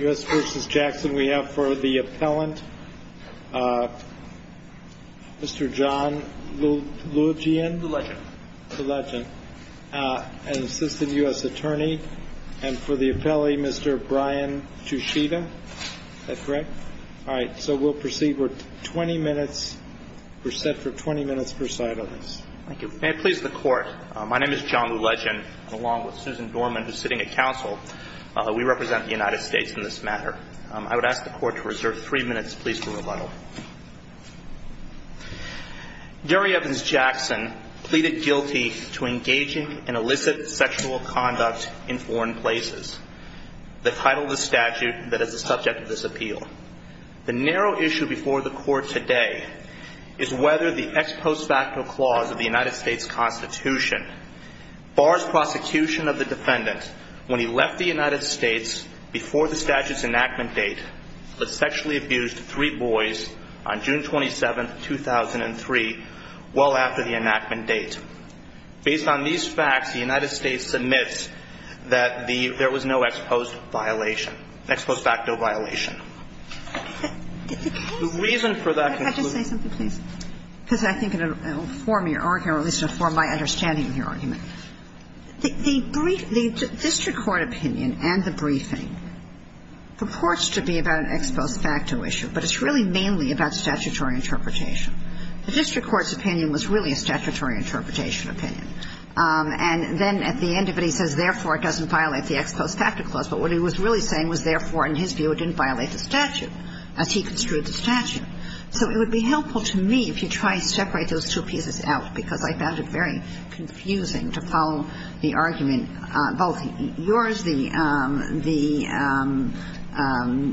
U.S. v. Jackson, we have a question for you. Now for the appellant, Mr. John Lulugian, an assistant U.S. attorney, and for the appellee, Mr. Brian Tushita. Is that correct? All right. So we'll proceed. We're 20 minutes. We're set for 20 minutes per side on this. Thank you. May it please the Court. My name is John Lulugian, and along with Susan Dorman, who's sitting at counsel, we represent the United States in this matter. I would ask the Court to reserve three minutes, please, for rebuttal. Jerry Evans Jackson pleaded guilty to engaging in illicit sexual conduct in foreign places. The title of the statute that is the subject of this appeal. The narrow issue before the Court today is whether the ex post facto clause of the United States Constitution bars prosecution of the defendant when he left the United States before the statute's enactment date, but sexually abused three boys on June 27, 2003, well after the enactment date. Based on these facts, the United States submits that the – there was no ex post violation – ex post facto violation. The reason for that conclusion – Could I just say something, please? Because I think it will inform your argument, or at least inform my understanding of your argument. The district court opinion and the briefing purports to be about an ex post facto issue, but it's really mainly about statutory interpretation. The district court's opinion was really a statutory interpretation opinion. And then at the end of it, he says, therefore, it doesn't violate the ex post facto clause, but what he was really saying was, therefore, in his view, it didn't violate the statute, as he construed the statute. So it would be helpful to me if you try to separate those two pieces out, because I found it very confusing to follow the argument, both yours, the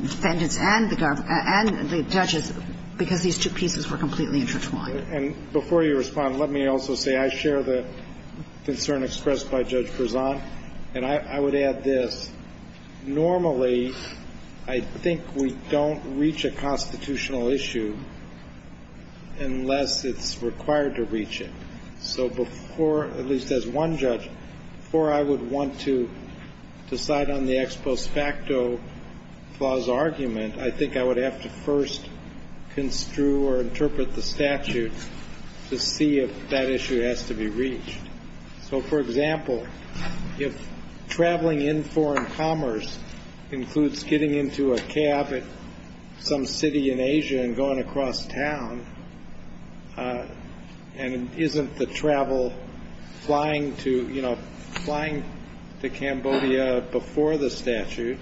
defendant's, and the judge's, because these two pieces were completely intertwined. And before you respond, let me also say I share the concern expressed by Judge Verzant, and I would add this. Normally, I think we don't reach a constitutional issue unless it's required to reach it. So before, at least as one judge, before I would want to decide on the ex post facto clause argument, I think I would have to first construe or interpret the statute to see if that issue has to be reached. So for example, if traveling in foreign commerce includes getting into a cab at some city in Asia and going across town, and isn't the travel flying to, you know, flying to Cambodia before the statute,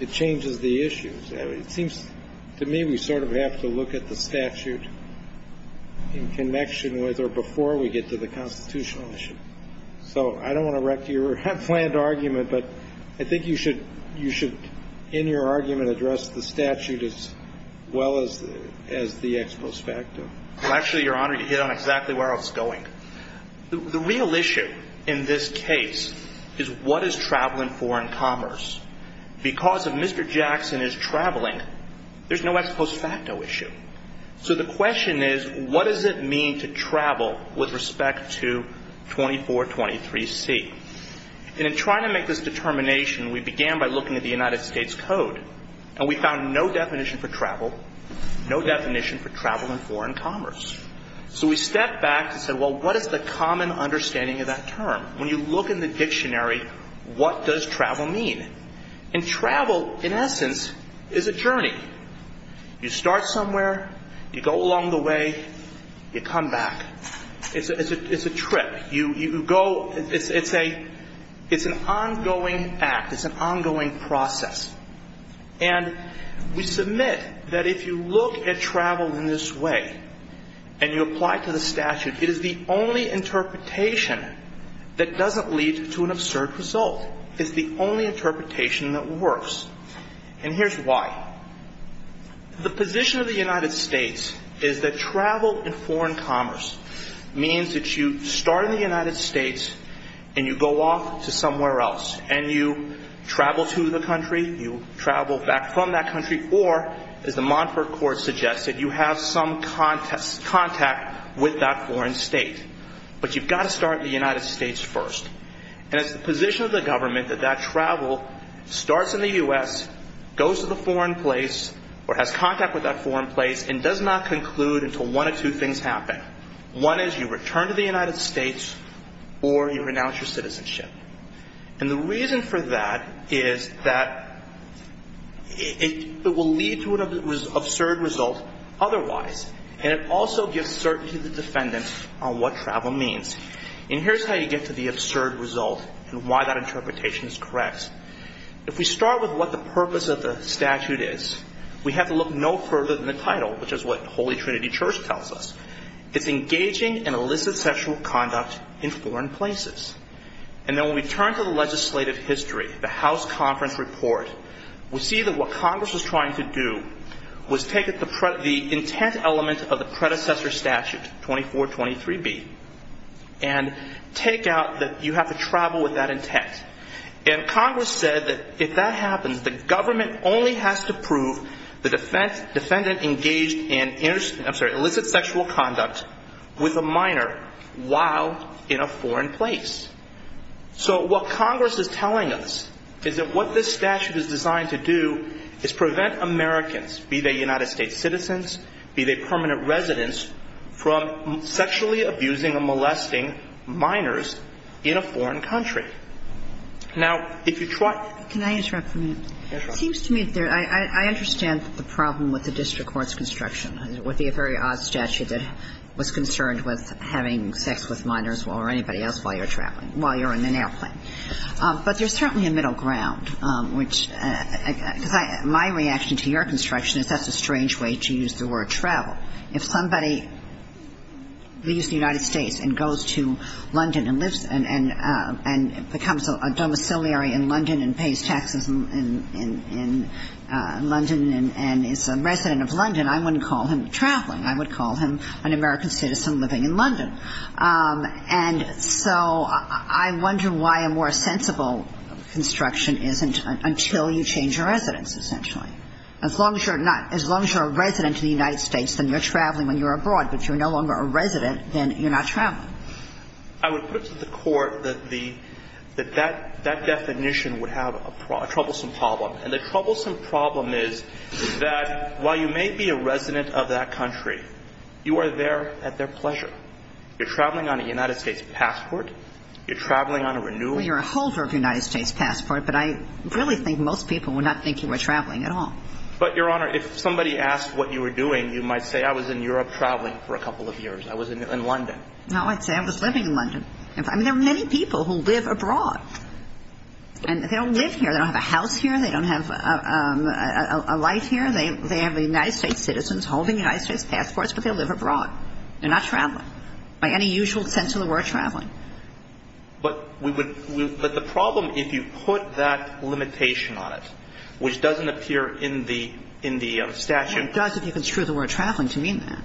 it changes the issues. It seems to me we sort of have to look at the statute in connection with or before we get to the constitutional issue. So I don't want to wreck your planned argument, but I think you should, in your argument, address the statute as well as the ex post facto. Well, actually, Your Honor, you hit on exactly where I was going. The real issue in this case is what is traveling foreign commerce? Because if Mr. Jackson is traveling, there's no ex post facto issue. So the question is, what does it mean to travel with respect to 2423C? And in trying to make this determination, we began by looking at the United States Code, and we found no definition for travel, no definition for travel in foreign commerce. So we stepped back and said, well, what is the common understanding of that term? When you look in the dictionary, what does travel mean? And travel, in essence, is a journey. You start somewhere, you go along the way, you come back. It's a trip. You go, it's an ongoing act. It's an ongoing process. And we submit that if you look at travel in this way and you apply it to the statute, it is the only interpretation that doesn't lead to an absurd result. It's the only interpretation that works. And here's why. The position of the United States is that travel in foreign commerce means that you start in the United States and you go off to somewhere else. And you travel to the country, you travel back from that country, or, as the Montfort Court suggested, you have some contact with that foreign state. But you've got to start in the United States first. And it's the position of the government that that travel starts in the U.S., goes to the foreign place, or has contact with that foreign place, and does not conclude until one of two things happen. One is you return to the United States or you renounce your citizenship. And the reason for that is that it will lead to an absurd result otherwise. And it also gives certainty to the defendant on what travel means. And here's how you get to the absurd result and why that interpretation is correct. If we start with what the purpose of the statute is, we have to look no further than the title, which is what Holy Trinity Church tells us. It's engaging in illicit sexual conduct in foreign places. And then when we turn to the legislative history, the House Conference Report, we see that what Congress was trying to do was take the intent element of the predecessor statute, 2423B, and take out that you have to travel with that intent. And Congress said that if that happens, the government only has to prove the conduct with a minor while in a foreign place. So what Congress is telling us is that what this statute is designed to do is prevent Americans, be they United States citizens, be they permanent residents, from sexually abusing and molesting minors in a foreign country. Now, if you try to Can I interrupt for a minute? It seems to me that I understand the problem with the district court's construction, with the very odd statute that was concerned with having sex with minors or anybody else while you're traveling, while you're in an airplane. But there's certainly a middle ground, which, because my reaction to your construction is that's a strange way to use the word travel. If somebody leaves the United States and goes to London and lives, and becomes a domiciliary in London and pays taxes in London and is a resident of London, I wouldn't call him traveling. I would call him an American citizen living in London. And so I wonder why a more sensible construction isn't until you change your residence, essentially. As long as you're not as long as you're a resident of the United States, then you're traveling when you're abroad. But if you're no longer a resident, then you're not traveling. I would put to the Court that the that that definition would have a troublesome problem. And the troublesome problem is that while you may be a resident of that country, you are there at their pleasure. You're traveling on a United States passport. You're traveling on a renewal. You're a holder of a United States passport. But I really think most people would not think you were traveling at all. But, Your Honor, if somebody asked what you were doing, you might say I was in Europe traveling for a couple of years. I was in London. No, I'd say I was living in London. I mean, there are many people who live abroad. And they don't live here. They don't have a house here. They don't have a life here. They have United States citizens holding United States passports, but they live abroad. They're not traveling by any usual sense of the word traveling. But we would we would but the problem if you put that limitation on it, which doesn't appear in the in the statute. It does if you construe the word traveling to mean that.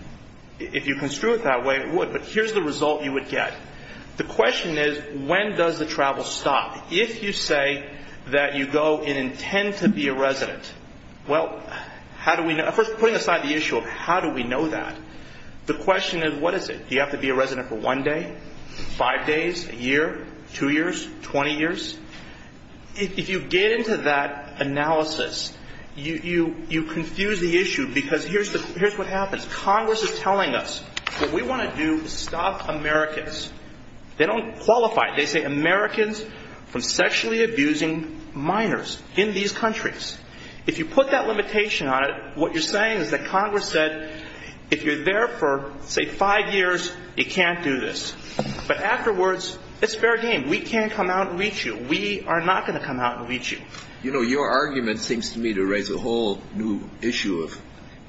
If you construe it that way, it would. But here's the result you would get. The question is, when does the travel stop? If you say that you go and intend to be a resident. Well, how do we know? First, putting aside the issue of how do we know that? The question is, what is it? Do you have to be a resident for one day, five days, a year, two years, 20 years? If you get into that analysis, you confuse the issue because here's what happens. Congress is telling us what we want to do is stop Americans. They don't qualify. They say Americans from sexually abusing minors in these countries. If you put that limitation on it, what you're saying is that Congress said, if you're there for, say, five years, you can't do this. But afterwards, it's fair game. We can come out and reach you. We are not going to come out and reach you. You know, your argument seems to me to raise a whole new issue of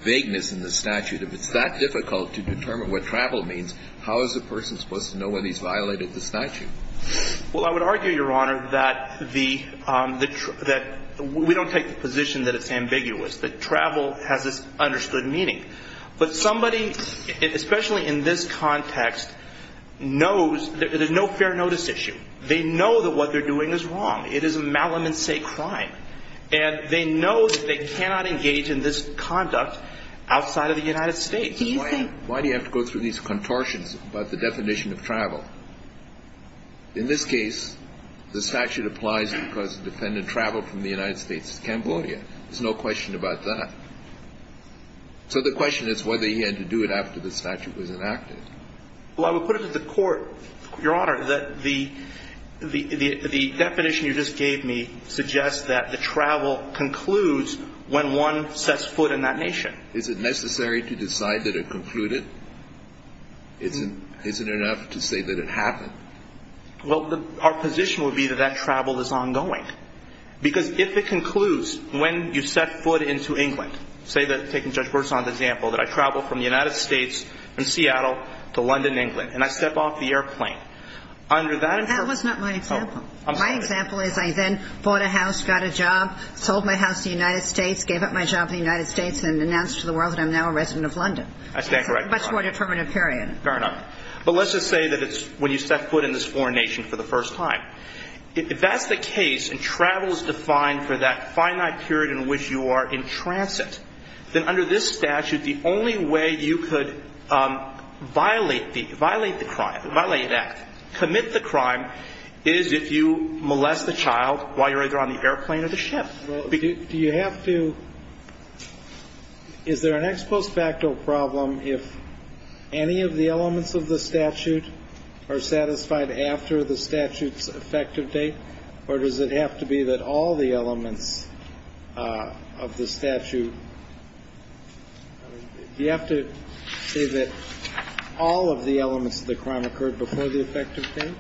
vagueness in the statute. If it's that difficult to determine what travel means, how is the person supposed to know when he's violated the statute? Well, I would argue, Your Honor, that we don't take the position that it's ambiguous, that travel has this understood meaning. But somebody, especially in this context, knows there's no fair notice issue. They know that what they're doing is wrong. It is a malum in se crime. And they know that they cannot engage in this conduct outside of the United States. Why do you have to go through these contortions about the definition of travel? In this case, the statute applies because the defendant traveled from the United States to Cambodia. There's no question about that. So the question is whether he had to do it after the statute was enacted. Well, I would put it to the Court, Your Honor, that the definition you just gave me suggests that the travel concludes when one sets foot in that nation. Is it necessary to decide that it concluded? Is it enough to say that it happened? Well, our position would be that that travel is ongoing. Because if it concludes when you set foot into England, say that, taking Judge Burson's example, that I travel from the United States and Seattle to London, England, and I step off the airplane. Under that- That was not my example. My example is I then bought a house, got a job, sold my house to the United States, and announced to the world that I'm now a resident of London. That's a much more determinative period. Fair enough. But let's just say that it's when you set foot in this foreign nation for the first time. If that's the case, and travel is defined for that finite period in which you are in transit, then under this statute, the only way you could violate the crime, violate an act, commit the crime, is if you molest the child while you're either on the airplane or the ship. Well, do you have to – is there an ex post facto problem if any of the elements of the statute are satisfied after the statute's effective date? Or does it have to be that all the elements of the statute – do you have to say that all of the elements of the crime occurred before the effective date?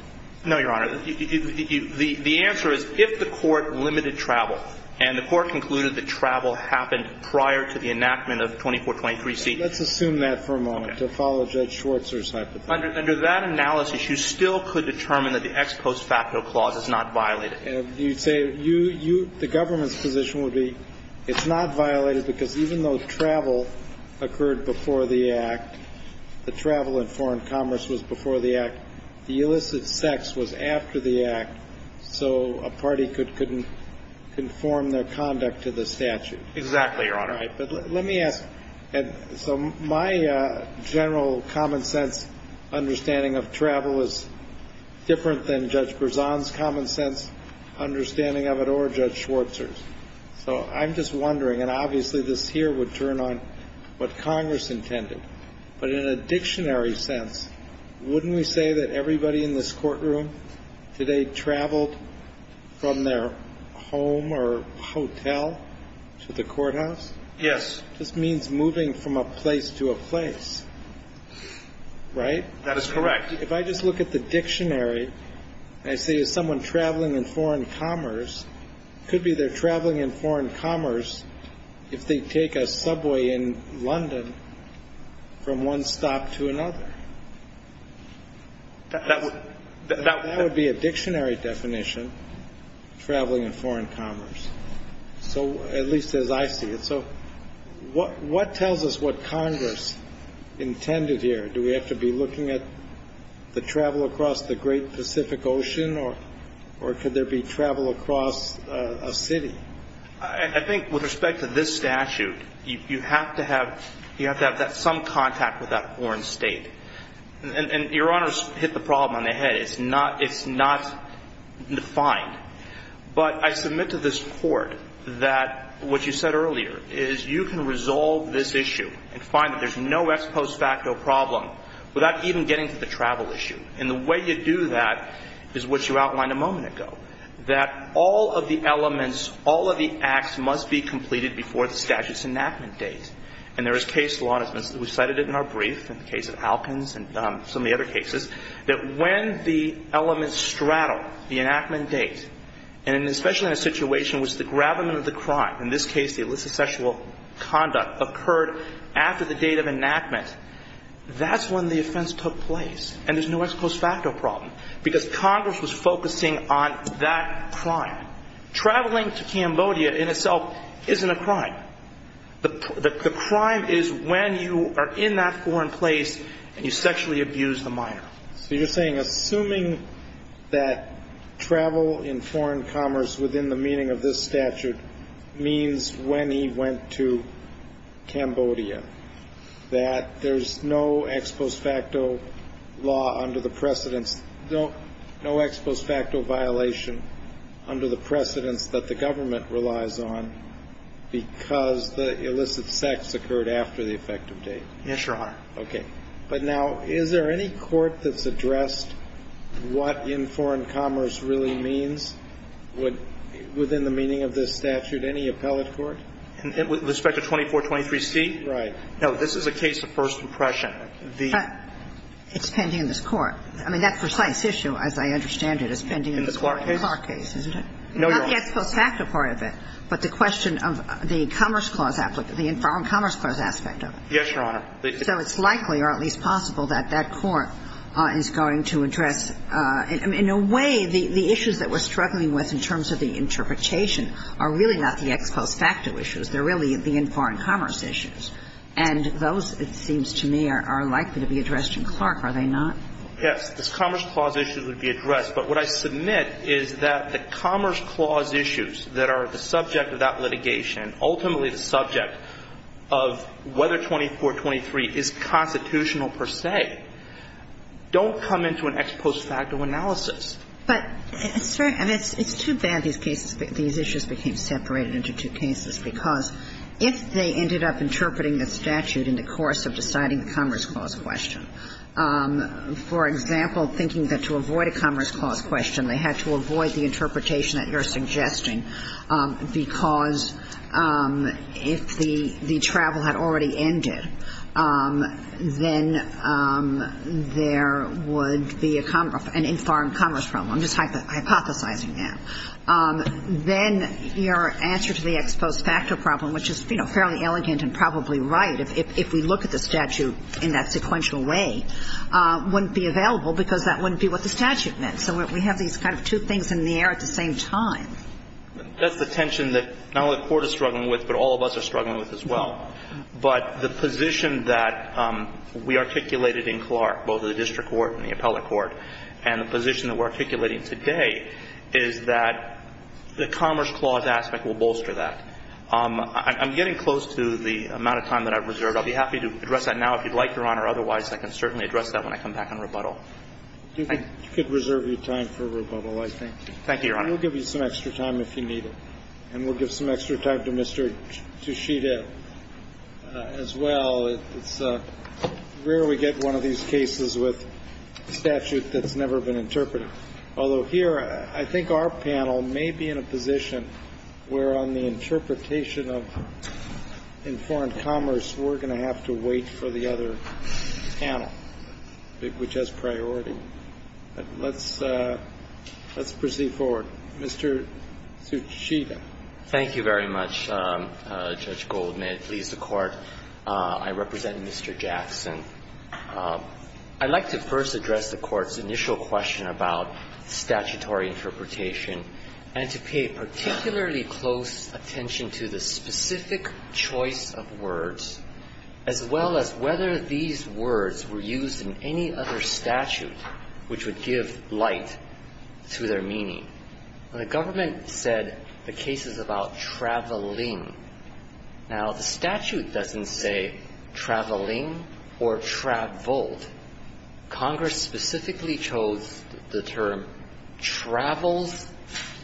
No, Your Honor. The answer is if the court limited travel, and the court concluded that travel happened prior to the enactment of 2423C. Let's assume that for a moment, to follow Judge Schwartzer's hypothesis. Under that analysis, you still could determine that the ex post facto clause is not violated. You'd say you – the government's position would be it's not violated because even though travel occurred before the act, the travel in foreign commerce was after the act, so a party could – couldn't conform their conduct to the statute. Exactly, Your Honor. Right. But let me ask – and so my general common sense understanding of travel is different than Judge Berzon's common sense understanding of it or Judge Schwartzer's. So I'm just wondering, and obviously this here would turn on what Congress intended, but in a dictionary sense, wouldn't we say that everybody in this courtroom today traveled from their home or hotel to the courthouse? Yes. This means moving from a place to a place, right? That is correct. If I just look at the dictionary, and I say is someone traveling in foreign commerce, it could be they're traveling in foreign commerce if they take a subway in London from one stop to another. That would be a dictionary definition, traveling in foreign commerce, at least as I see it. So what tells us what Congress intended here? Do we have to be looking at the travel across the great Pacific Ocean or could there be travel across a city? I think with respect to this statute, you have to have some contact with that foreign state. And Your Honors hit the problem on the head. It's not defined. But I submit to this Court that what you said earlier is you can resolve this issue and find that there's no ex post facto problem without even getting to the travel issue. And the way you do that is what you outlined a moment ago, that all of the elements, all of the acts must be completed before the statute's enactment date. And there is case law, and we cited it in our brief, in the case of Alkins and some of the other cases, that when the elements straddle the enactment date, and especially in a situation which the gravamen of the crime, in this case the illicit sexual conduct, occurred after the date of enactment, that's when the offense took place. And there's no ex post facto problem because Congress was focusing on that crime. Traveling to Cambodia in itself isn't a crime. The crime is when you are in that foreign place and you sexually abuse the minor. So you're saying, assuming that travel in foreign commerce within the meaning of this statute means when he went to Cambodia, that there's no ex post facto law under the precedence, no ex post facto violation under the precedence that the crime occurred, it's because the illicit sex occurred after the effective date? Yes, Your Honor. Okay. But now, is there any court that's addressed what in foreign commerce really means within the meaning of this statute? Any appellate court? With respect to 2423C? Right. No, this is a case of first impression. But it's pending in this court. I mean, that precise issue, as I understand it, is pending in this court. In the Clark case? In the Clark case, isn't it? No, Your Honor. Not the ex post facto part of it. But the question of the commerce clause, the foreign commerce clause aspect of it. Yes, Your Honor. So it's likely, or at least possible, that that court is going to address – in a way, the issues that we're struggling with in terms of the interpretation are really not the ex post facto issues. They're really the in foreign commerce issues. And those, it seems to me, are likely to be addressed in Clark, are they not? Yes. The commerce clause issues would be addressed. But what I submit is that the commerce clause issues that are the subject of that litigation, ultimately the subject of whether 2423 is constitutional per se, don't come into an ex post facto analysis. But, it's very – I mean, it's too bad these cases – these issues became separated into two cases, because if they ended up interpreting the statute in the course of deciding the commerce clause question, for example, thinking that to avoid a commerce clause question, they had to avoid the interpretation that you're suggesting, because if the travel had already ended, then there would be a – an in foreign commerce problem. I'm just hypothesizing now. Then your answer to the ex post facto problem, which is, you know, fairly elegant and probably right, if we look at the statute in that sequential way, wouldn't be available, because that wouldn't be what the statute meant. So we have these kind of two things in the air at the same time. That's the tension that not only the Court is struggling with, but all of us are struggling with as well. But the position that we articulated in Clark, both in the district court and the appellate court, and the position that we're articulating today, is that the commerce clause aspect will bolster that. I'm getting close to the amount of time that I've reserved. I'll be happy to address that now if you'd like, Your Honor. Otherwise, I can certainly address that when I come back on rebuttal. I could reserve your time for rebuttal, I think. Thank you, Your Honor. And we'll give you some extra time if you need it. And we'll give some extra time to Mr. Tushita as well. It's rare we get one of these cases with a statute that's never been interpreted. Although here, I think our panel may be in a position where on the interpretation of informed commerce, we're going to have to wait for the other panel, which has priority. But let's proceed forward. Mr. Tushita. Thank you very much, Judge Gold. May it please the Court. I represent Mr. Jackson. I'd like to first address the Court's initial question about statutory interpretation and to pay particularly close attention to the specific choice of words, as well as whether these words were used in any other statute which would give light to their meaning. The government said the case is about traveling. Now, the statute doesn't say traveling or traveled. Congress specifically chose the term travels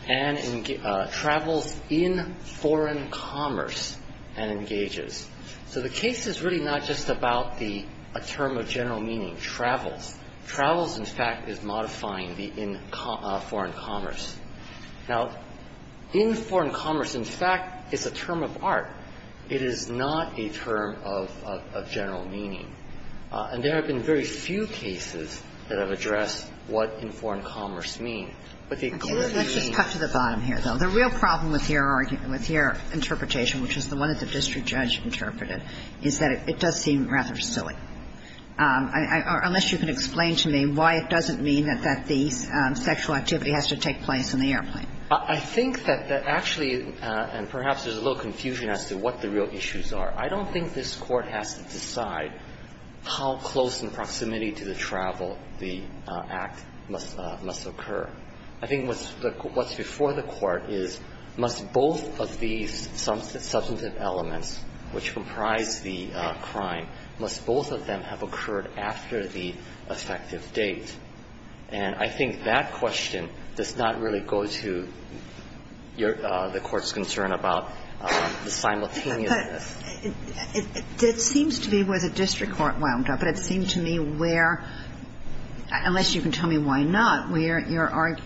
and travels in foreign commerce and engages. So the case is really not just about a term of general meaning, travels. Travels, in fact, is modifying the in foreign commerce. Now, in foreign commerce, in fact, is a term of art. It is not a term of general meaning. And there have been very few cases that have addressed what in foreign commerce means. But they clearly mean. Let's just cut to the bottom here, though. The real problem with your interpretation, which is the one that the district judge interpreted, is that it does seem rather silly, unless you can explain to me why it doesn't mean that the sexual activity has to take place in the airplane. I think that the actually and perhaps there's a little confusion as to what the real issues are. I don't think this Court has to decide how close in proximity to the travel the act must occur. I think what's before the Court is must both of these substantive elements, which comprise the crime, must both of them have occurred after the effective date. And I think that question does not really go to the Court's concern about the simultaneousness. It seems to be where the district court wound up, but it seemed to me where, unless you can tell me why not, where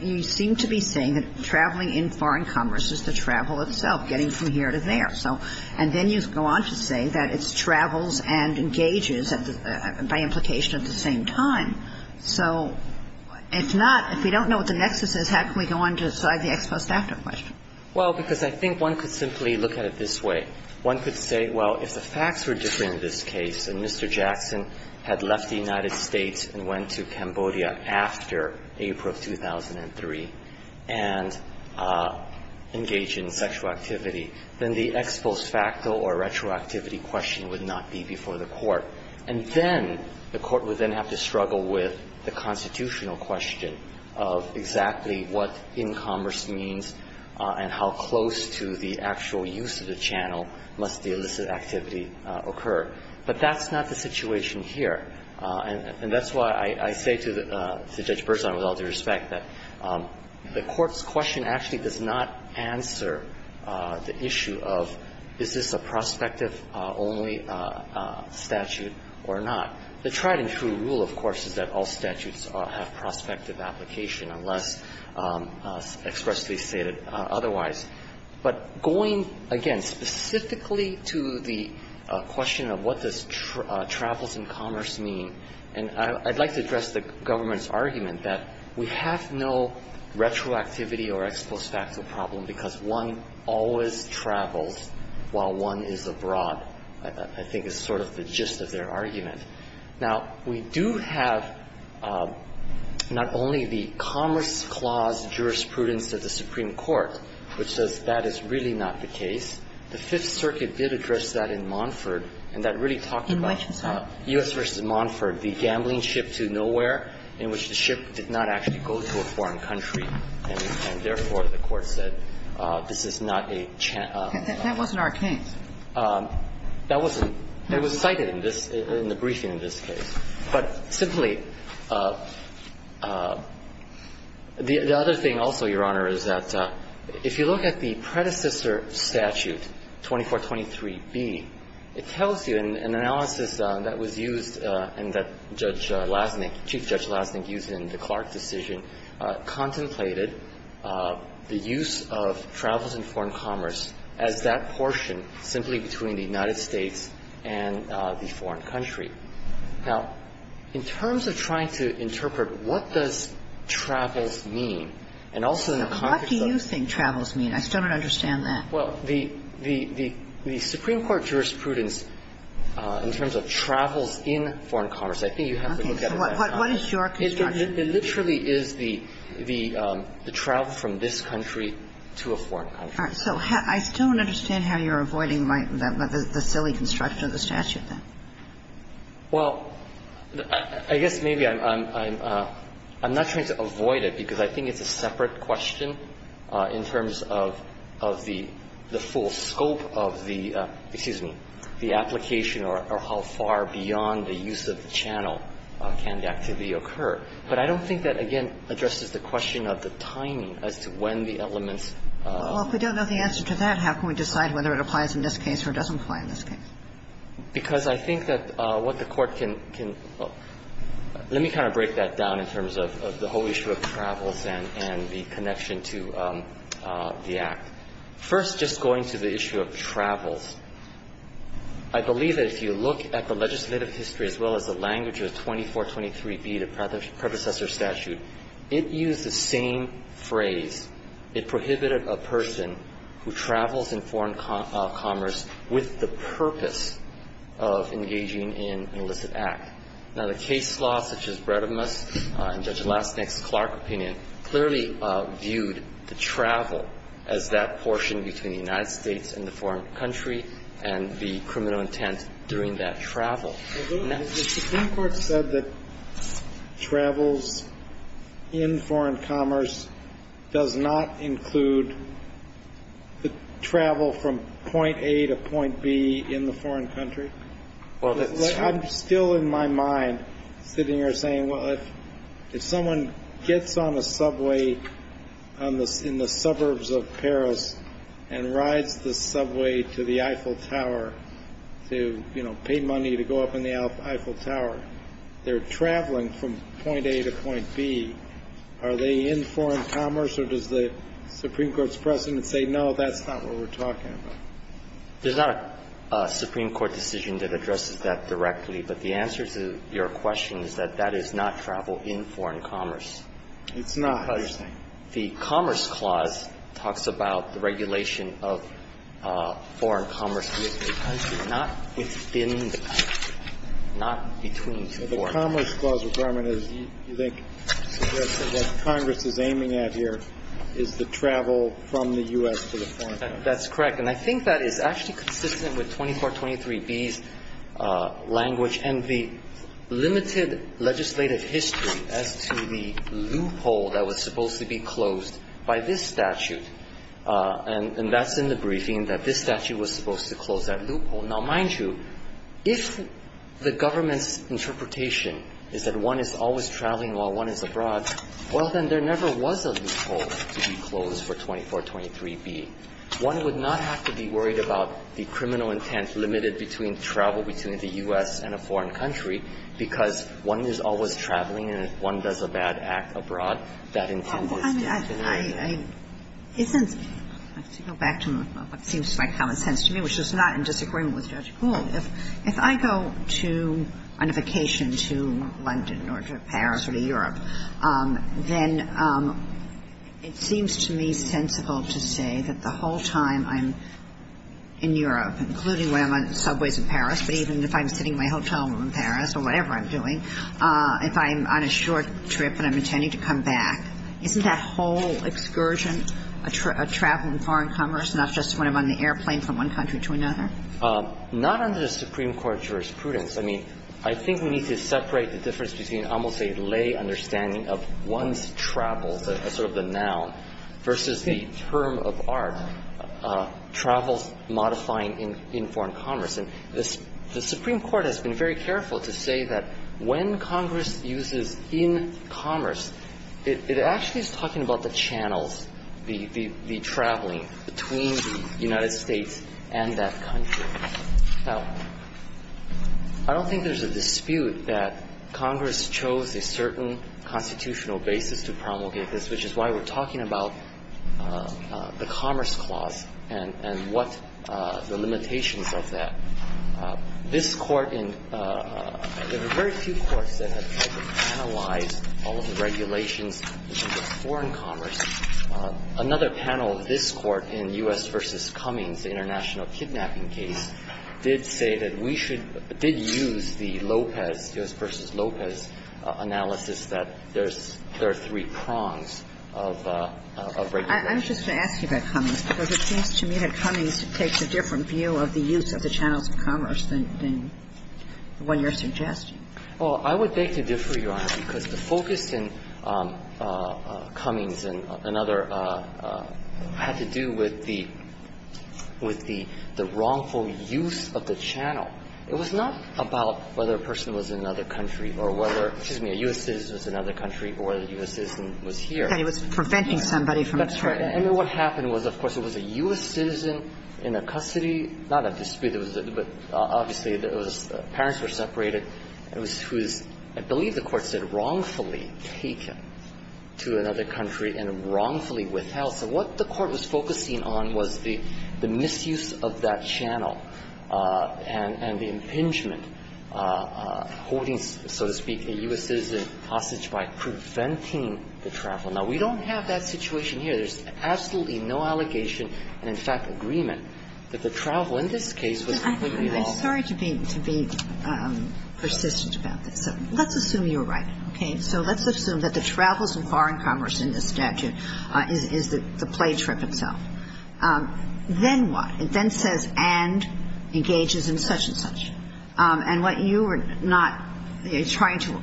you seem to be saying that traveling in foreign commerce is the travel itself, getting from here to there. And then you go on to say that it's travels and engages by implication at the same time. So if not, if we don't know what the nexus is, how can we go on to decide the ex post after question? Well, because I think one could simply look at it this way. One could say, well, if the facts were different in this case, and Mr. Jackson had left the United States and went to Cambodia after April of 2003 and engaged in sexual activity, then the ex post facto or retroactivity question would not be before the Court. And then the Court would then have to struggle with the constitutional question of exactly what in commerce means and how close to the actual use of the channel must the illicit activity occur. But that's not the situation here. And that's why I say to the Judge Berzon, with all due respect, that the Court's question actually does not answer the issue of is this a prospective-only statute or not. The tried and true rule, of course, is that all statutes have prospective application unless expressly stated otherwise. But going, again, specifically to the question of what does travels in commerce mean, and I'd like to address the government's argument that we have no retroactivity or ex post facto problem because one always travels while one is abroad, I think is sort of the gist of their argument. Now, we do have not only the Commerce Clause jurisprudence of the Supreme Court, which says that is really not the case. The Fifth Circuit did address that in Monford, and that really talked about the U.S. v. Monford, the gambling ship to nowhere in which the ship did not actually go to a foreign country. And therefore, the Court said this is not a chance. That wasn't our case. That wasn't. It was cited in this – in the briefing in this case. But simply, the other thing also, Your Honor, is that if you look at the predecessor statute, 2423B, it tells you in an analysis that was used and that Judge Lasnik, Chief Judge Lasnik used in the Clark decision, contemplated the use of travels in foreign commerce as that portion simply between the United States and the foreign country. Now, in terms of trying to interpret what does travels mean, and also in the context of the – What do you think travels mean? I still don't understand that. Well, the – the Supreme Court jurisprudence in terms of travels in foreign commerce, I think you have to look at it that way. Okay. So what is your construction? It literally is the travel from this country to a foreign country. All right. So I still don't understand how you're avoiding the silly construction of the statute then. Well, I guess maybe I'm – I'm not trying to avoid it because I think it's a separate question in terms of – of the full scope of the – excuse me, the application or how far beyond the use of the channel can the activity occur. But I don't think that, again, addresses the question of the timing as to when the elements of the statute occur. Well, if we don't know the answer to that, how can we decide whether it applies in this case or doesn't apply in this case? Because I think that what the Court can – can – let me kind of break that down in terms of the whole issue of travels and the connection to the Act. First, just going to the issue of travels, I believe that if you look at the legislative history as well as the language of 2423b, the predecessor statute, it used the same phrase. It prohibited a person who travels in foreign commerce with the purpose of engaging in an illicit act. Now, the case law, such as Bredemus and Judge Lastnick's Clark opinion, clearly viewed the travel as that portion between the United States and the foreign country and the criminal intent during that travel. Has the Supreme Court said that travels in foreign commerce does not include the travel from point A to point B in the foreign country? I'm still in my mind sitting here saying, well, if someone gets on a subway in the suburbs of Paris and rides the subway to the Eiffel Tower to, you know, pay money to go up in the Eiffel Tower, they're traveling from point A to point B, are they in foreign commerce, or does the Supreme Court's precedent say, no, that's not what we're talking about? There's not a Supreme Court decision that addresses that directly, but the answer to your question is that that is not travel in foreign commerce. It's not, I understand. The Commerce Clause talks about the regulation of foreign commerce within a country, not within the country, not between two countries. But the Commerce Clause requirement is, you think, suggests that what Congress is aiming at here is the travel from the U.S. to the foreign country. That's correct. And I think that is actually consistent with 2423b's language and the limited legislative history as to the loophole that was supposed to be closed by this statute. And that's in the briefing, that this statute was supposed to close that loophole Now, mind you, if the government's interpretation is that one is always traveling while one is abroad, well, then there never was a loophole to be closed for 2423b. One would not have to be worried about the criminal intent limited between travel between the U.S. and a foreign country, because one is always traveling, and if one does a bad act abroad, that intent was limited. I mean, I think it's, to go back to what seems like common sense to me, which is not in disagreement with Judge Gould, if I go to, on a vacation to London or to Paris or to Europe, then it seems to me sensible to say that the whole time I'm in Europe, including when I'm on subways in Paris, but even if I'm sitting in my hotel room in Paris or whatever I'm doing, if I'm on a short trip and I'm intending to come back, isn't that whole excursion a travel in foreign commerce, not just when I'm on the airplane from one country to another? Not under the Supreme Court's jurisprudence. I mean, I think we need to separate the difference between almost a lay understanding of one's travel, sort of the noun, versus the term of art, travels modifying in foreign commerce. And the Supreme Court has been very careful to say that when Congress uses in commerce, it actually is talking about the channels, the traveling between the United States and that country. Now, I don't think there's a dispute that Congress chose a certain constitutional basis to promulgate this, which is why we're talking about the Commerce Clause and what the limitations of that. This Court in the very few courts that have tried to analyze all of the regulations in terms of foreign commerce, another panel of this Court in U.S. v. Cummings, the international kidnapping case, did say that we should – did use the Lopez, U.S. v. Lopez analysis that there's – there are three prongs of regularity. I was just going to ask you about Cummings, because it seems to me that Cummings takes a different view of the use of the channels of commerce than the one you're suggesting. Well, I would beg to differ, Your Honor, because the focus in Cummings and other – had to do with the – with the wrongful use of the channel. It was not about whether a person was in another country or whether – excuse me, a U.S. citizen was in another country or whether a U.S. citizen was here. But it was preventing somebody from traveling. That's right. And what happened was, of course, it was a U.S. citizen in a custody – not a dispute. It was a – but obviously, it was – parents were separated, and it was – I believe the Court said wrongfully taken to another country and wrongfully withheld. So what the Court was focusing on was the – the misuse of that channel and – and the impingement, holding, so to speak, a U.S. citizen hostage by preventing the travel. Now, we don't have that situation here. And so there's absolutely no allegation and, in fact, agreement that the travel in this case was completely wrong. I'm sorry to be – to be persistent about this. Let's assume you're right, okay? So let's assume that the travels and foreign commerce in this statute is the – the play trip itself. Then what? It then says, and engages in such and such. And what you are not trying to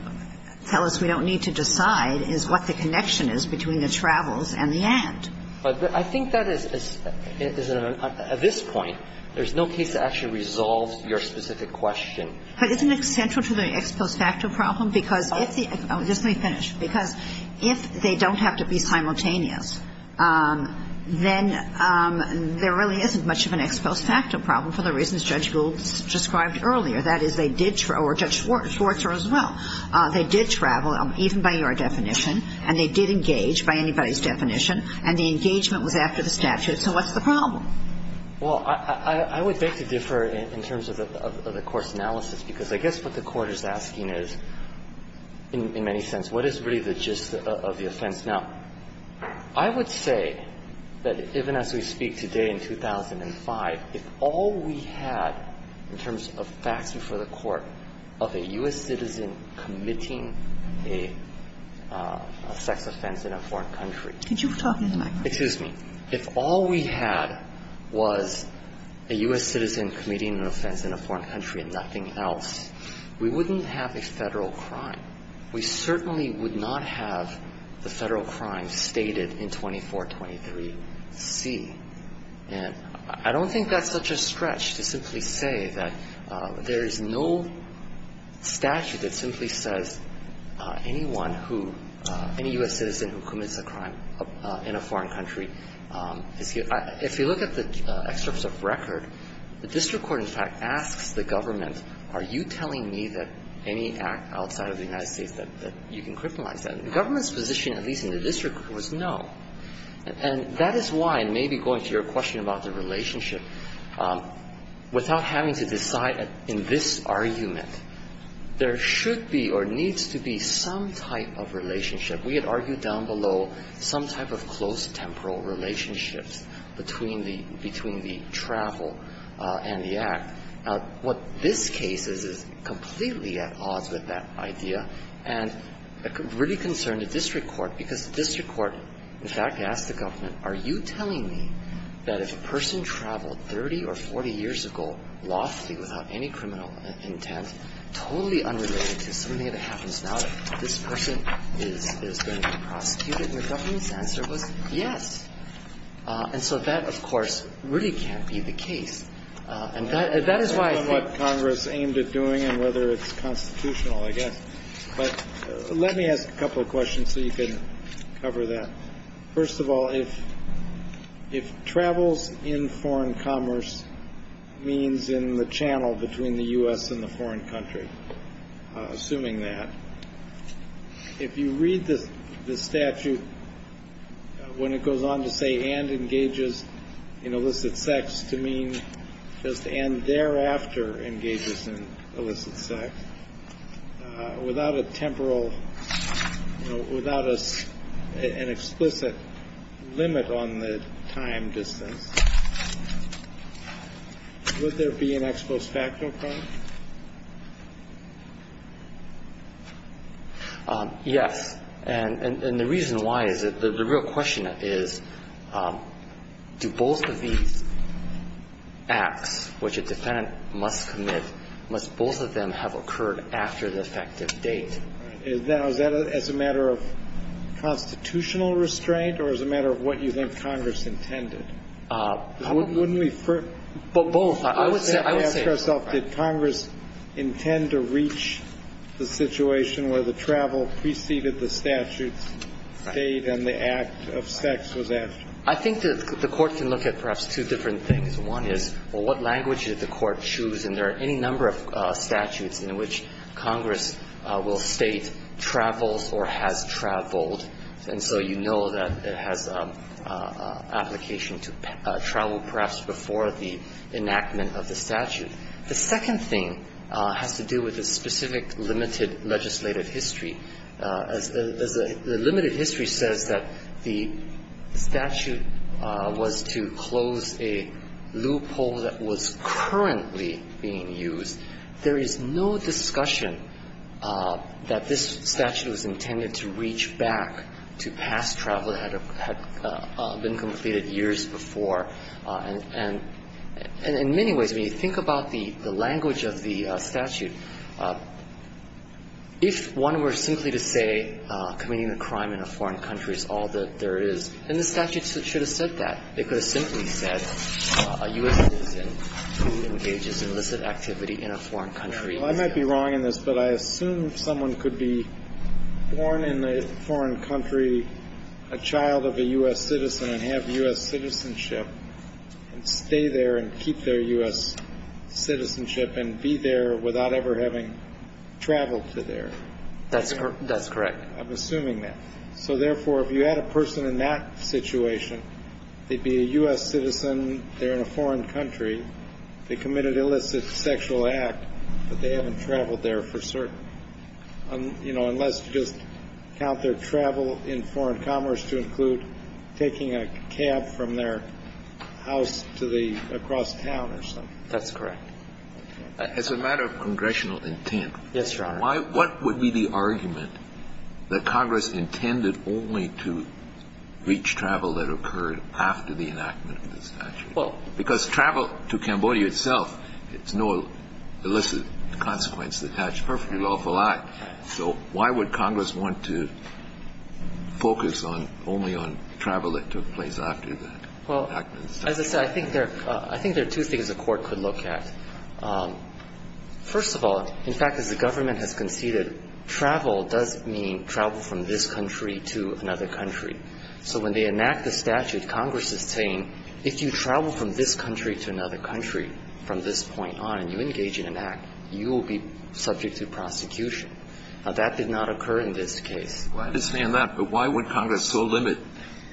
tell us we don't need to decide is what the connection is between the travels and the end. But I think that is – at this point, there's no case that actually resolves your specific question. But isn't it central to the ex post facto problem? Because if the – just let me finish. Because if they don't have to be simultaneous, then there really isn't much of an ex post facto problem for the reasons Judge Gould described earlier. That is, they did – or Judge Schwartzer as well. They did travel, even by your definition, and they did engage, by anybody's definition. And the engagement was after the statute. So what's the problem? Well, I would beg to differ in terms of the court's analysis, because I guess what the Court is asking is, in many sense, what is really the gist of the offense? Now, I would say that even as we speak today in 2005, if all we had in terms of facts for the court of a U.S. citizen committing a sex offense in a foreign country Excuse me. If all we had was a U.S. citizen committing an offense in a foreign country and nothing else, we wouldn't have a Federal crime. We certainly would not have the Federal crime stated in 2423C. And I don't think that's such a stretch to simply say that there is no statute that simply says anyone who – any U.S. citizen who commits a crime in a foreign country – excuse me. If you look at the excerpts of record, the district court, in fact, asks the government, are you telling me that any act outside of the United States that you can criminalize that? The government's position, at least in the district, was no. And that is why, and maybe going to your question about the relationship, without having to decide in this argument, there should be or needs to be some type of relationship. We had argued down below some type of close temporal relationships between the – between the travel and the act. Now, what this case is, is completely at odds with that idea and really concerned the district court, because the district court, in fact, asked the government, are you telling me that if a person traveled 30 or 40 years ago lawfully without any criminal intent, totally unrelated to something that happens now, that this person is going to be prosecuted? And the government's answer was, yes. And so that, of course, really can't be the case. And that is why I think – Kennedy, on what Congress aimed at doing and whether it's constitutional, I guess. But let me ask a couple of questions so you can cover that. First of all, if travels in foreign commerce means in the channel between the U.S. and the foreign country, assuming that, if you read the statute when it goes on to say in illicit sex, to mean just and thereafter engages in illicit sex, without a temporal – without an explicit limit on the time distance, would there be an ex post facto crime? Yes. And the reason why is that the real question is, do both of these acts which a defendant must commit, must both of them have occurred after the effective date? Now, is that as a matter of constitutional restraint or as a matter of what you think Congress intended? Wouldn't we – But both. I would say – But would Congress intend to reach the situation where the travel preceded the statute's date and the act of sex was after? I think that the Court can look at perhaps two different things. One is, well, what language did the Court choose? And there are any number of statutes in which Congress will state travels or has traveled. And so you know that it has application to travel perhaps before the enactment of the statute. The second thing has to do with the specific limited legislative history. As the limited history says that the statute was to close a loophole that was currently being used, there is no discussion that this statute was intended to reach back to past travel that had been completed years before. And in many ways, when you think about the language of the statute, if one were simply to say committing a crime in a foreign country is all that there is, then the statute should have said that. It could have simply said a U.S. citizen who engages in illicit activity in a foreign country. Well, I might be wrong in this, but I assume someone could be born in a foreign country, a child of a U.S. citizen, and have U.S. citizenship and stay there and keep their U.S. citizenship and be there without ever having traveled to there. That's correct. I'm assuming that. So, therefore, if you had a person in that situation, they'd be a U.S. citizen, they're in a foreign country, they committed illicit sexual act, but they haven't traveled there for certain. You know, unless you just count their travel in foreign commerce to include taking a cab from their house to the across town or something. That's correct. As a matter of congressional intent. Yes, Your Honor. What would be the argument that Congress intended only to reach travel that occurred after the enactment of the statute? Because travel to Cambodia itself, it's no illicit consequence. It's a perfectly lawful act. So why would Congress want to focus only on travel that took place after the enactment of the statute? Well, as I said, I think there are two things a court could look at. First of all, in fact, as the government has conceded, travel does mean travel from this country to another country. So when they enact the statute, Congress is saying, if you travel from this country to another country from this point on and you engage in an act, you will be subject to prosecution. Now, that did not occur in this case. I understand that. But why would Congress so limit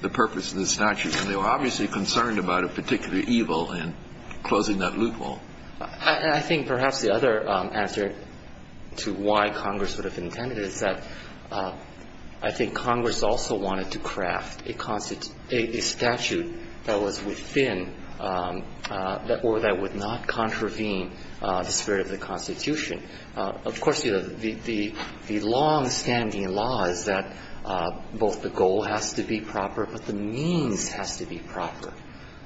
the purpose of the statute? And they were obviously concerned about a particular evil in closing that loophole. I think perhaps the other answer to why Congress would have intended it is that I think Congress also wanted to craft a statute that was within or that would not contravene the spirit of the Constitution. Of course, the longstanding law is that both the goal has to be proper, but the means has to be proper.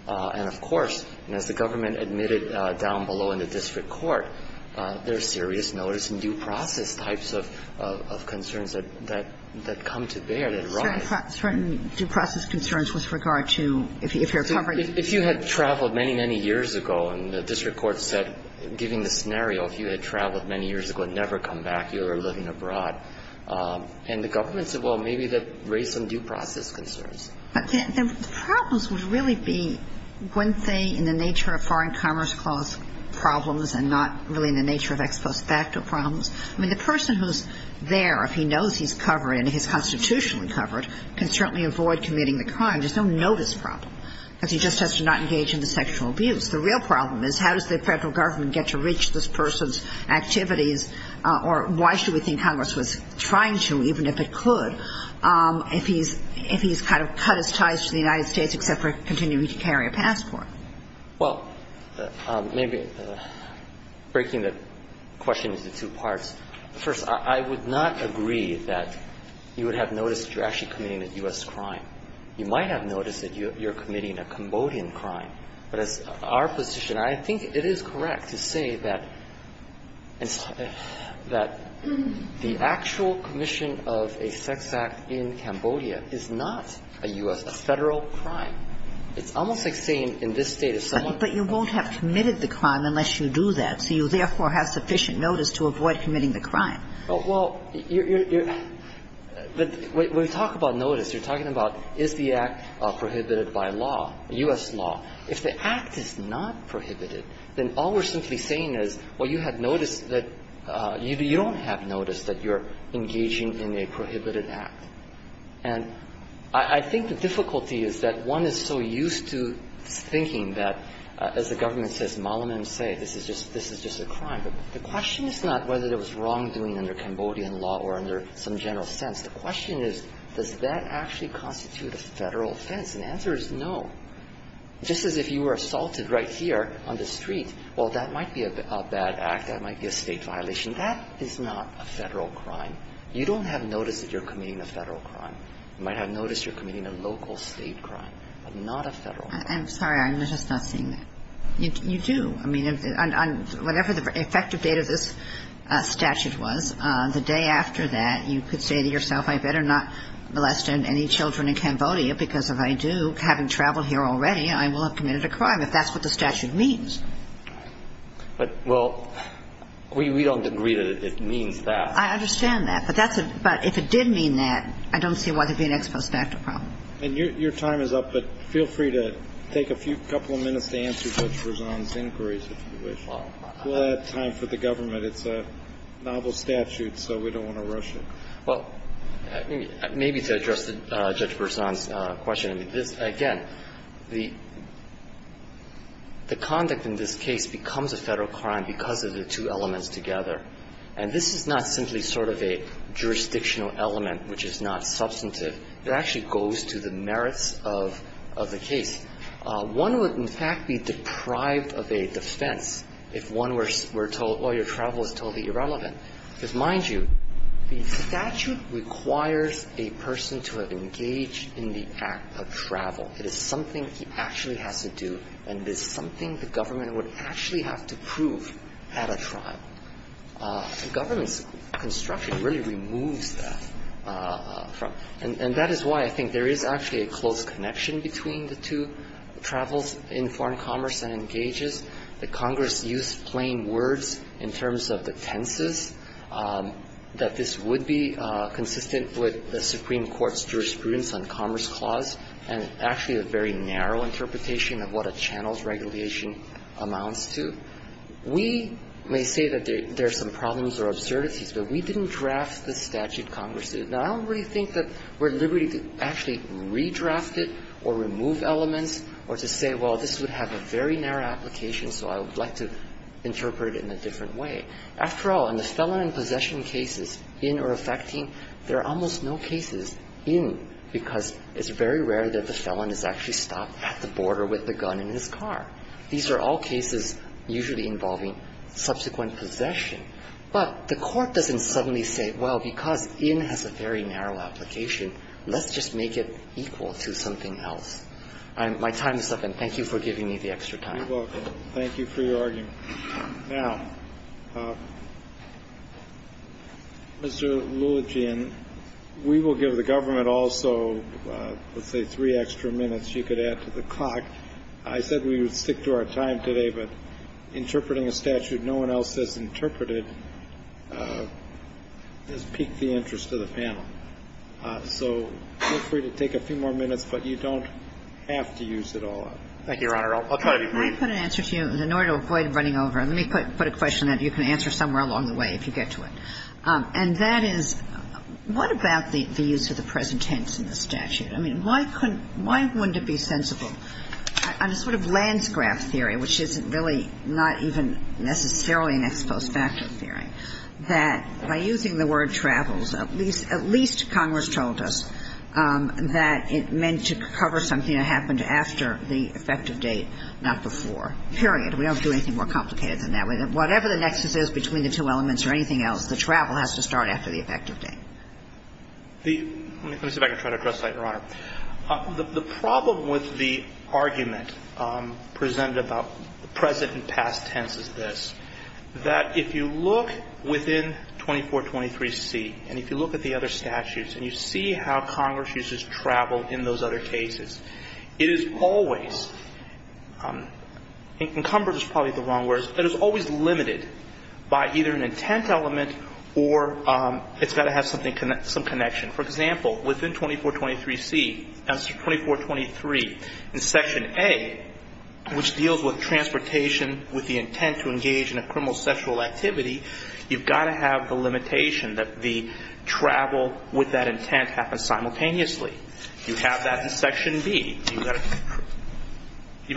And of course, as the government admitted down below in the district court, there are serious notice and due process types of concerns that come to bear, that arise. Certain due process concerns with regard to if you're covered? If you had traveled many, many years ago, and the district court said, given the scenario, if you had traveled many years ago and never come back, you were living abroad. And the government said, well, maybe that raised some due process concerns. But the problems would really be when they, in the nature of foreign commerce clause problems and not really in the nature of ex post facto problems. I mean, the person who's there, if he knows he's covered and he's constitutionally covered, can certainly avoid committing the crime. There's no notice problem, because he just has to not engage in the sexual abuse. The real problem is how does the federal government get to reach this person's activities, or why should we think Congress was trying to, even if it could, if he's kind of cut his ties to the United States except for continuing to carry a passport? Well, maybe breaking the question into two parts. First, I would not agree that you would have noticed you're actually committing a U.S. crime. You might have noticed that you're committing a Cambodian crime. But as our position, I think it is correct to say that the actual commission of a sex act in Cambodia is not a U.S. federal crime. It's almost like saying in this state if someone But you won't have committed the crime unless you do that. So you therefore have sufficient notice to avoid committing the crime. Well, you're, when you talk about notice, you're talking about is the act prohibited by law, U.S. law. If the act is not prohibited, then all we're simply saying is, well, you had noticed that you don't have notice that you're engaging in a prohibited act. And I think the difficulty is that one is so used to thinking that, as the government says, Malaman Se, this is just a crime. But the question is not whether there was wrongdoing under Cambodian law or under some general sense. The question is, does that actually constitute a federal offense? And the answer is no. Just as if you were assaulted right here on the street, well, that might be a bad act, that might be a state violation. That is not a federal crime. You don't have notice that you're committing a federal crime. You might have notice you're committing a local state crime, but not a federal crime. I'm sorry. I'm just not seeing that. You do. I mean, on whatever the effective date of this statute was, the day after that, you could say to yourself, I better not molest any children in Cambodia because if I do, having traveled here already, I will have committed a crime, if that's what the statute means. But, well, we don't agree that it means that. I understand that. But if it did mean that, I don't see why there would be an ex post facto problem. And your time is up. But feel free to take a couple of minutes to answer Judge Berzon's inquiries if you wish. We'll have time for the government. It's a novel statute, so we don't want to rush it. Well, maybe to address Judge Berzon's question, I mean, this, again, the conduct in this case becomes a federal crime because of the two elements together. And this is not simply sort of a jurisdictional element, which is not substantive. It actually goes to the merits of the case. One would, in fact, be deprived of a defense if one were told, oh, your travel is totally irrelevant. Because, mind you, the statute requires a person to engage in the act of travel. It is something he actually has to do, and it is something the government would actually have to prove at a trial. The government's construction really removes that. And that is why I think there is actually a close connection between the two travels in foreign commerce and engages. The Congress used plain words in terms of the tenses, that this would be consistent with the Supreme Court's jurisprudence on commerce clause. And actually a very narrow interpretation of what a channel's regulation amounts to. We may say that there are some problems or absurdities, but we didn't draft the statute Congress did. Now, I don't really think that we're at liberty to actually redraft it or remove elements or to say, well, this would have a very narrow application, so I would like to interpret it in a different way. After all, in the felon and possession cases, in or affecting, there are almost no cases in, because it's very rare that the felon is actually stopped at the border with the gun in his car. These are all cases usually involving subsequent possession. But the Court doesn't suddenly say, well, because in has a very narrow application, let's just make it equal to something else. My time is up, and thank you for giving me the extra time. Thank you for your argument. Now, Mr. Lulogin, we will give the government also, let's say, three extra minutes you could add to the clock. I said we would stick to our time today, but interpreting a statute no one else has interpreted has piqued the interest of the panel. So feel free to take a few more minutes, but you don't have to use it all up. Thank you, Your Honor. I'll try to be brief. Let me put an answer to you in order to avoid running over. Let me put a question that you can answer somewhere along the way if you get to it. And that is, what about the use of the present tense in the statute? I mean, why couldn't, why wouldn't it be sensible? On a sort of landscrap theory, which isn't really not even necessarily an ex post facto theory, that by using the word travels, at least Congress told us that it meant to cover something that happened after the effective date, not before. Period. We don't do anything more complicated than that. Whatever the nexus is between the two elements or anything else, the travel has to start after the effective date. Let me see if I can try to address that, Your Honor. The problem with the argument presented about the present and past tense is this, that if you look within 2423C and if you look at the other statutes and you see how it is always, encumbered is probably the wrong words, it is always limited by either an intent element or it's got to have some connection. For example, within 2423C, answer 2423, in section A, which deals with transportation with the intent to engage in a criminal sexual activity, you've got to have the limitation that the travel with that intent happens simultaneously. You have that in section B. You've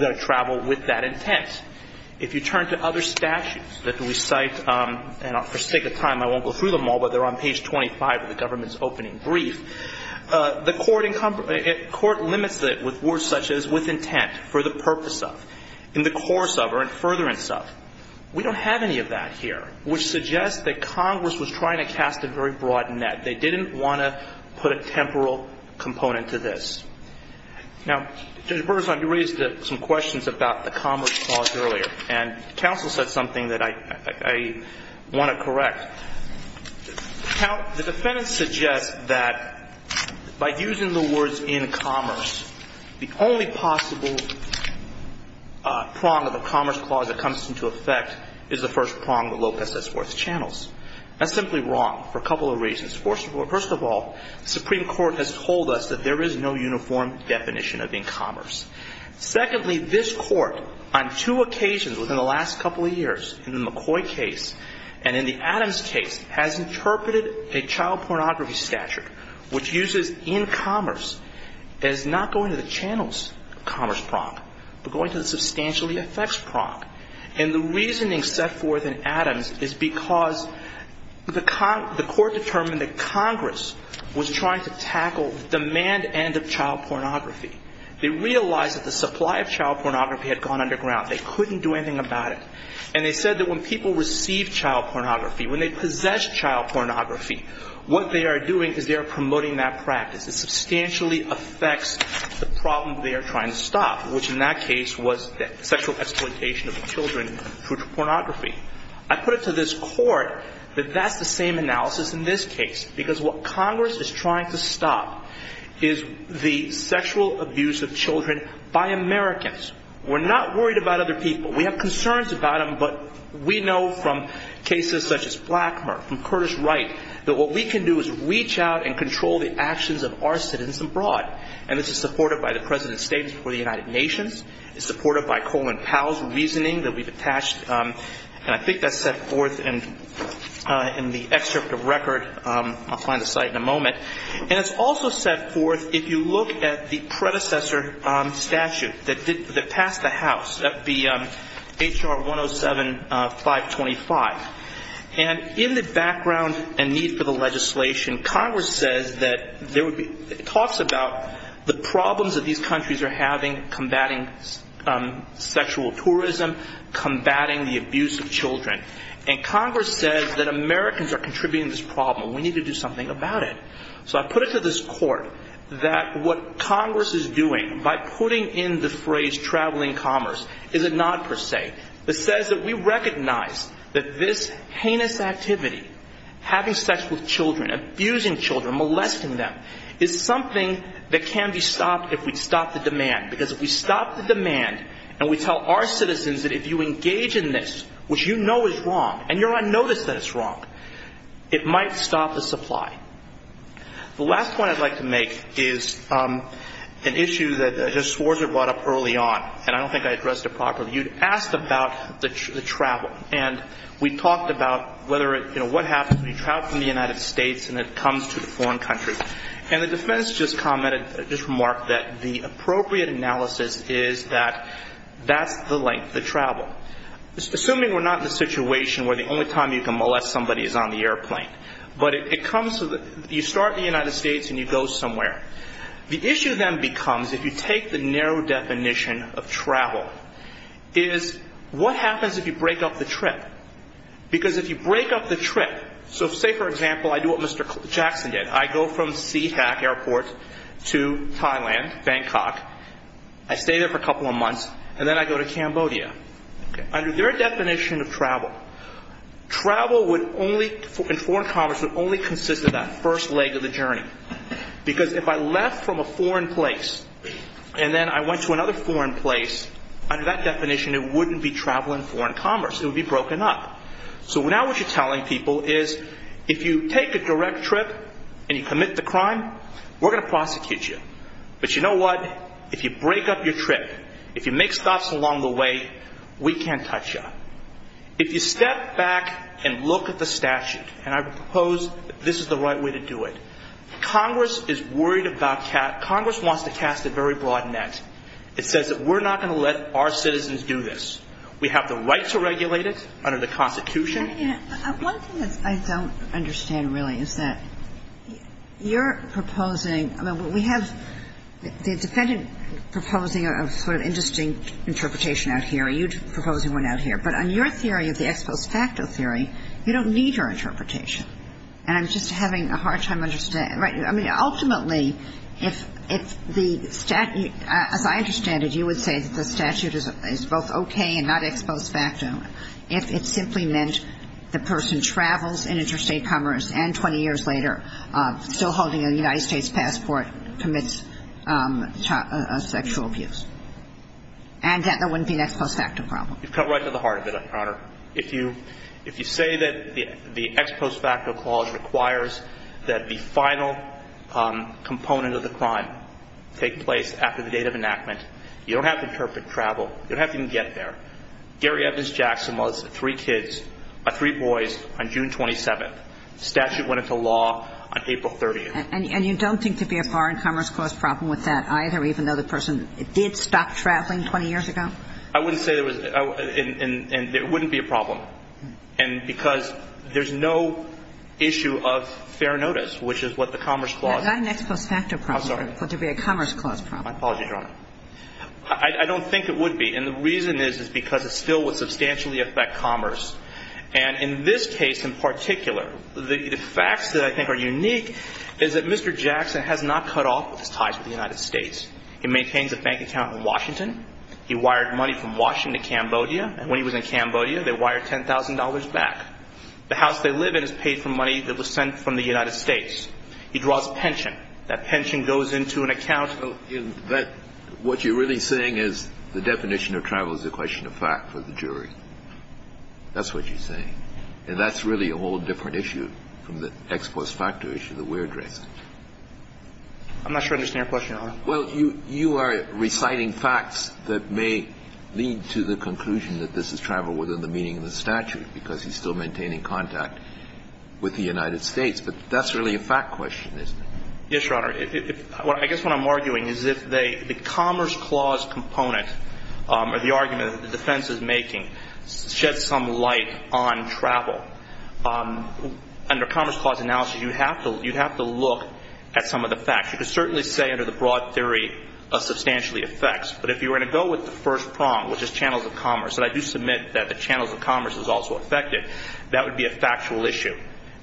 got to travel with that intent. If you turn to other statutes that we cite, and for sake of time I won't go through them all, but they're on page 25 of the government's opening brief, the court limits it with words such as with intent, for the purpose of, in the course of, or in furtherance of. We don't have any of that here, which suggests that Congress was trying to cast a very broad net. They didn't want to put a temporal component to this. Now, Judge Bergeson, you raised some questions about the commerce clause earlier, and counsel said something that I want to correct. The defendant suggests that by using the words in commerce, the only possible prong of a commerce clause that comes into effect is the first prong with Lopez's fourth channels. That's simply wrong for a couple of reasons. First of all, the Supreme Court has told us that there is no uniform definition of in commerce. Secondly, this court, on two occasions within the last couple of years, in the McCoy case and in the Adams case, has interpreted a child pornography statute, which uses in commerce as not going to the channels commerce prong, but going to the substantially effects prong. And the reasoning set forth in Adams is because the court determined that Congress was trying to tackle the demand end of child pornography. They realized that the supply of child pornography had gone underground. They couldn't do anything about it. And they said that when people receive child pornography, when they possess child pornography, what they are doing is they are promoting that practice. It substantially affects the problem they are trying to stop, which in that case was sexual exploitation of children through pornography. I put it to this court that that's the same analysis in this case, because what Congress is trying to stop is the sexual abuse of children by Americans. We're not worried about other people. We have concerns about them, but we know from cases such as Blackmer, from Curtis Wright, that what we can do is reach out and control the actions of our citizens abroad. And this is supported by the President's statements before the United Nations. It's supported by Colin Powell's reasoning that we've attached. And I think that's set forth in the excerpt of record. I'll find the site in a moment. And it's also set forth if you look at the predecessor statute that passed the House, that would be H.R. 107-525. And in the background and need for the legislation, Congress says that there has been sexual tourism, combating the abuse of children. And Congress says that Americans are contributing to this problem. We need to do something about it. So I put it to this court that what Congress is doing by putting in the phrase traveling commerce is a nod per se. It says that we recognize that this heinous activity, having sex with children, abusing children, molesting them, is something that can be stopped if we stop the demand. Because if we stop the demand and we tell our citizens that if you engage in this, which you know is wrong, and you're on notice that it's wrong, it might stop the supply. The last point I'd like to make is an issue that just Swarzer brought up early on. And I don't think I addressed it properly. You asked about the travel. And we talked about whether it, you know, what happens when you travel from the United States and it comes to a foreign country. And the defense just commented, just remarked that the appropriate analysis is that that's the length, the travel. Assuming we're not in a situation where the only time you can molest somebody is on the airplane. But it comes to the, you start in the United States and you go somewhere. The issue then becomes, if you take the narrow definition of travel, is what happens if you break up the trip? Because if you break up the trip, so say for example, I do what Mr. Jackson did. I go from Seahawk Airport to Thailand, Bangkok. I stay there for a couple of months and then I go to Cambodia. Under their definition of travel, travel would only, in foreign commerce, would only consist of that first leg of the journey. Because if I left from a foreign place and then I went to another foreign place, under that definition it wouldn't be travel in foreign commerce. It would be broken up. So now what you're telling people is if you take a direct trip and you commit the crime, we're going to prosecute you. But you know what? If you break up your trip, if you make stops along the way, we can't touch you. If you step back and look at the statute, and I propose this is the right way to do it. Congress is worried about, Congress wants to cast a very broad net. It says that we're not going to let our citizens do this. We have the right to regulate it under the Constitution. One thing that I don't understand really is that you're proposing, I mean, we have the defendant proposing a sort of indistinct interpretation out here. You're proposing one out here. But on your theory of the ex post facto theory, you don't need her interpretation. And I'm just having a hard time understanding. I mean, ultimately, if the statute, as I understand it, you would say that the statute would be a non-ex post facto if it simply meant the person travels in interstate commerce and 20 years later, still holding a United States passport, commits sexual abuse. And that there wouldn't be an ex post facto problem. You've cut right to the heart of it, Your Honor. If you say that the ex post facto clause requires that the final component of the crime take place after the date of enactment, you don't have to interpret travel. You don't have to even get there. Gary Evans Jackson was three kids, three boys, on June 27th. Statute went into law on April 30th. And you don't think there'd be a foreign commerce clause problem with that either, even though the person did stop traveling 20 years ago? I wouldn't say there was, and it wouldn't be a problem. And because there's no issue of fair notice, which is what the commerce clause No, not an ex post facto problem. I'm sorry. But there'd be a commerce clause problem. My apologies, Your Honor. I don't think it would be. And the reason is because it still would substantially affect commerce. And in this case in particular, the facts that I think are unique is that Mr. Jackson has not cut off his ties with the United States. He maintains a bank account in Washington. He wired money from Washington to Cambodia. And when he was in Cambodia, they wired $10,000 back. The house they live in is paid for money that was sent from the United States. He draws pension. That pension goes into an account. What you're really saying is the definition of travel is a question of fact for the jury. That's what you're saying. And that's really a whole different issue from the ex post facto issue that we're addressing. I'm not sure I understand your question, Your Honor. Well, you are reciting facts that may lead to the conclusion that this is travel within the meaning of the statute because he's still maintaining contact with the United States. But that's really a fact question, isn't it? Yes, Your Honor. I guess what I'm arguing is if the Commerce Clause component or the argument that the defense is making sheds some light on travel, under Commerce Clause analysis you have to look at some of the facts. You could certainly say under the broad theory it substantially affects. But if you were going to go with the first prong, which is channels of commerce, and I do submit that the channels of commerce is also affected, that would be a factual issue.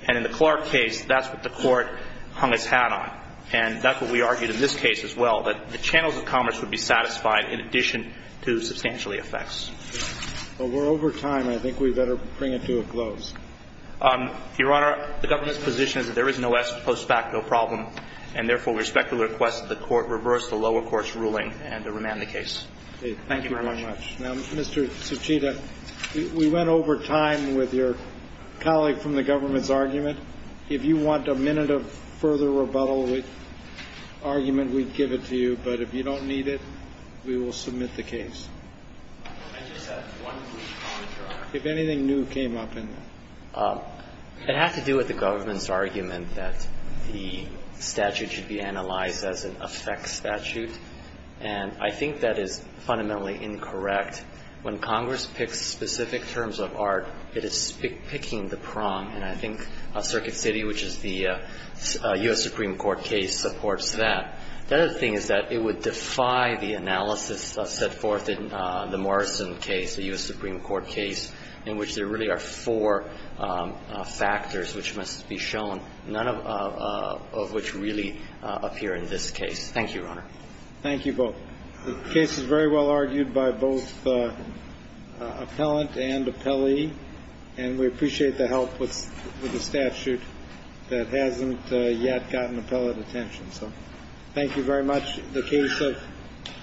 And in the Clark case, that's what the court hung its hat on. And that's what we argued in this case as well, that the channels of commerce would be satisfied in addition to substantially affects. Well, we're over time. I think we better bring it to a close. Your Honor, the government's position is that there is no ex post facto problem and therefore we respectfully request that the court reverse the lower court's ruling and to remand the case. Thank you very much. Now, Mr. Tsuchida, we went over time with your colleague from the government's argument. If you want a minute of further rebuttal with argument, we'd give it to you. But if you don't need it, we will submit the case. I just have one brief comment, Your Honor. If anything new came up in that. It had to do with the government's argument that the statute should be analyzed as an affects statute. And I think that is fundamentally incorrect. When Congress picks specific terms of art, it is picking the prong. And I think Circuit City, which is the U.S. Supreme Court case, supports that. The other thing is that it would defy the analysis set forth in the Morrison case, the U.S. Supreme Court case, in which there really are four factors which must be shown, none of which really appear in this case. Thank you, Your Honor. Thank you both. The case is very well argued by both appellant and appellee. And we appreciate the help with the statute that hasn't yet gotten appellate attention. So thank you very much. The case of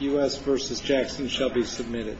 U.S. v. Jackson shall be submitted.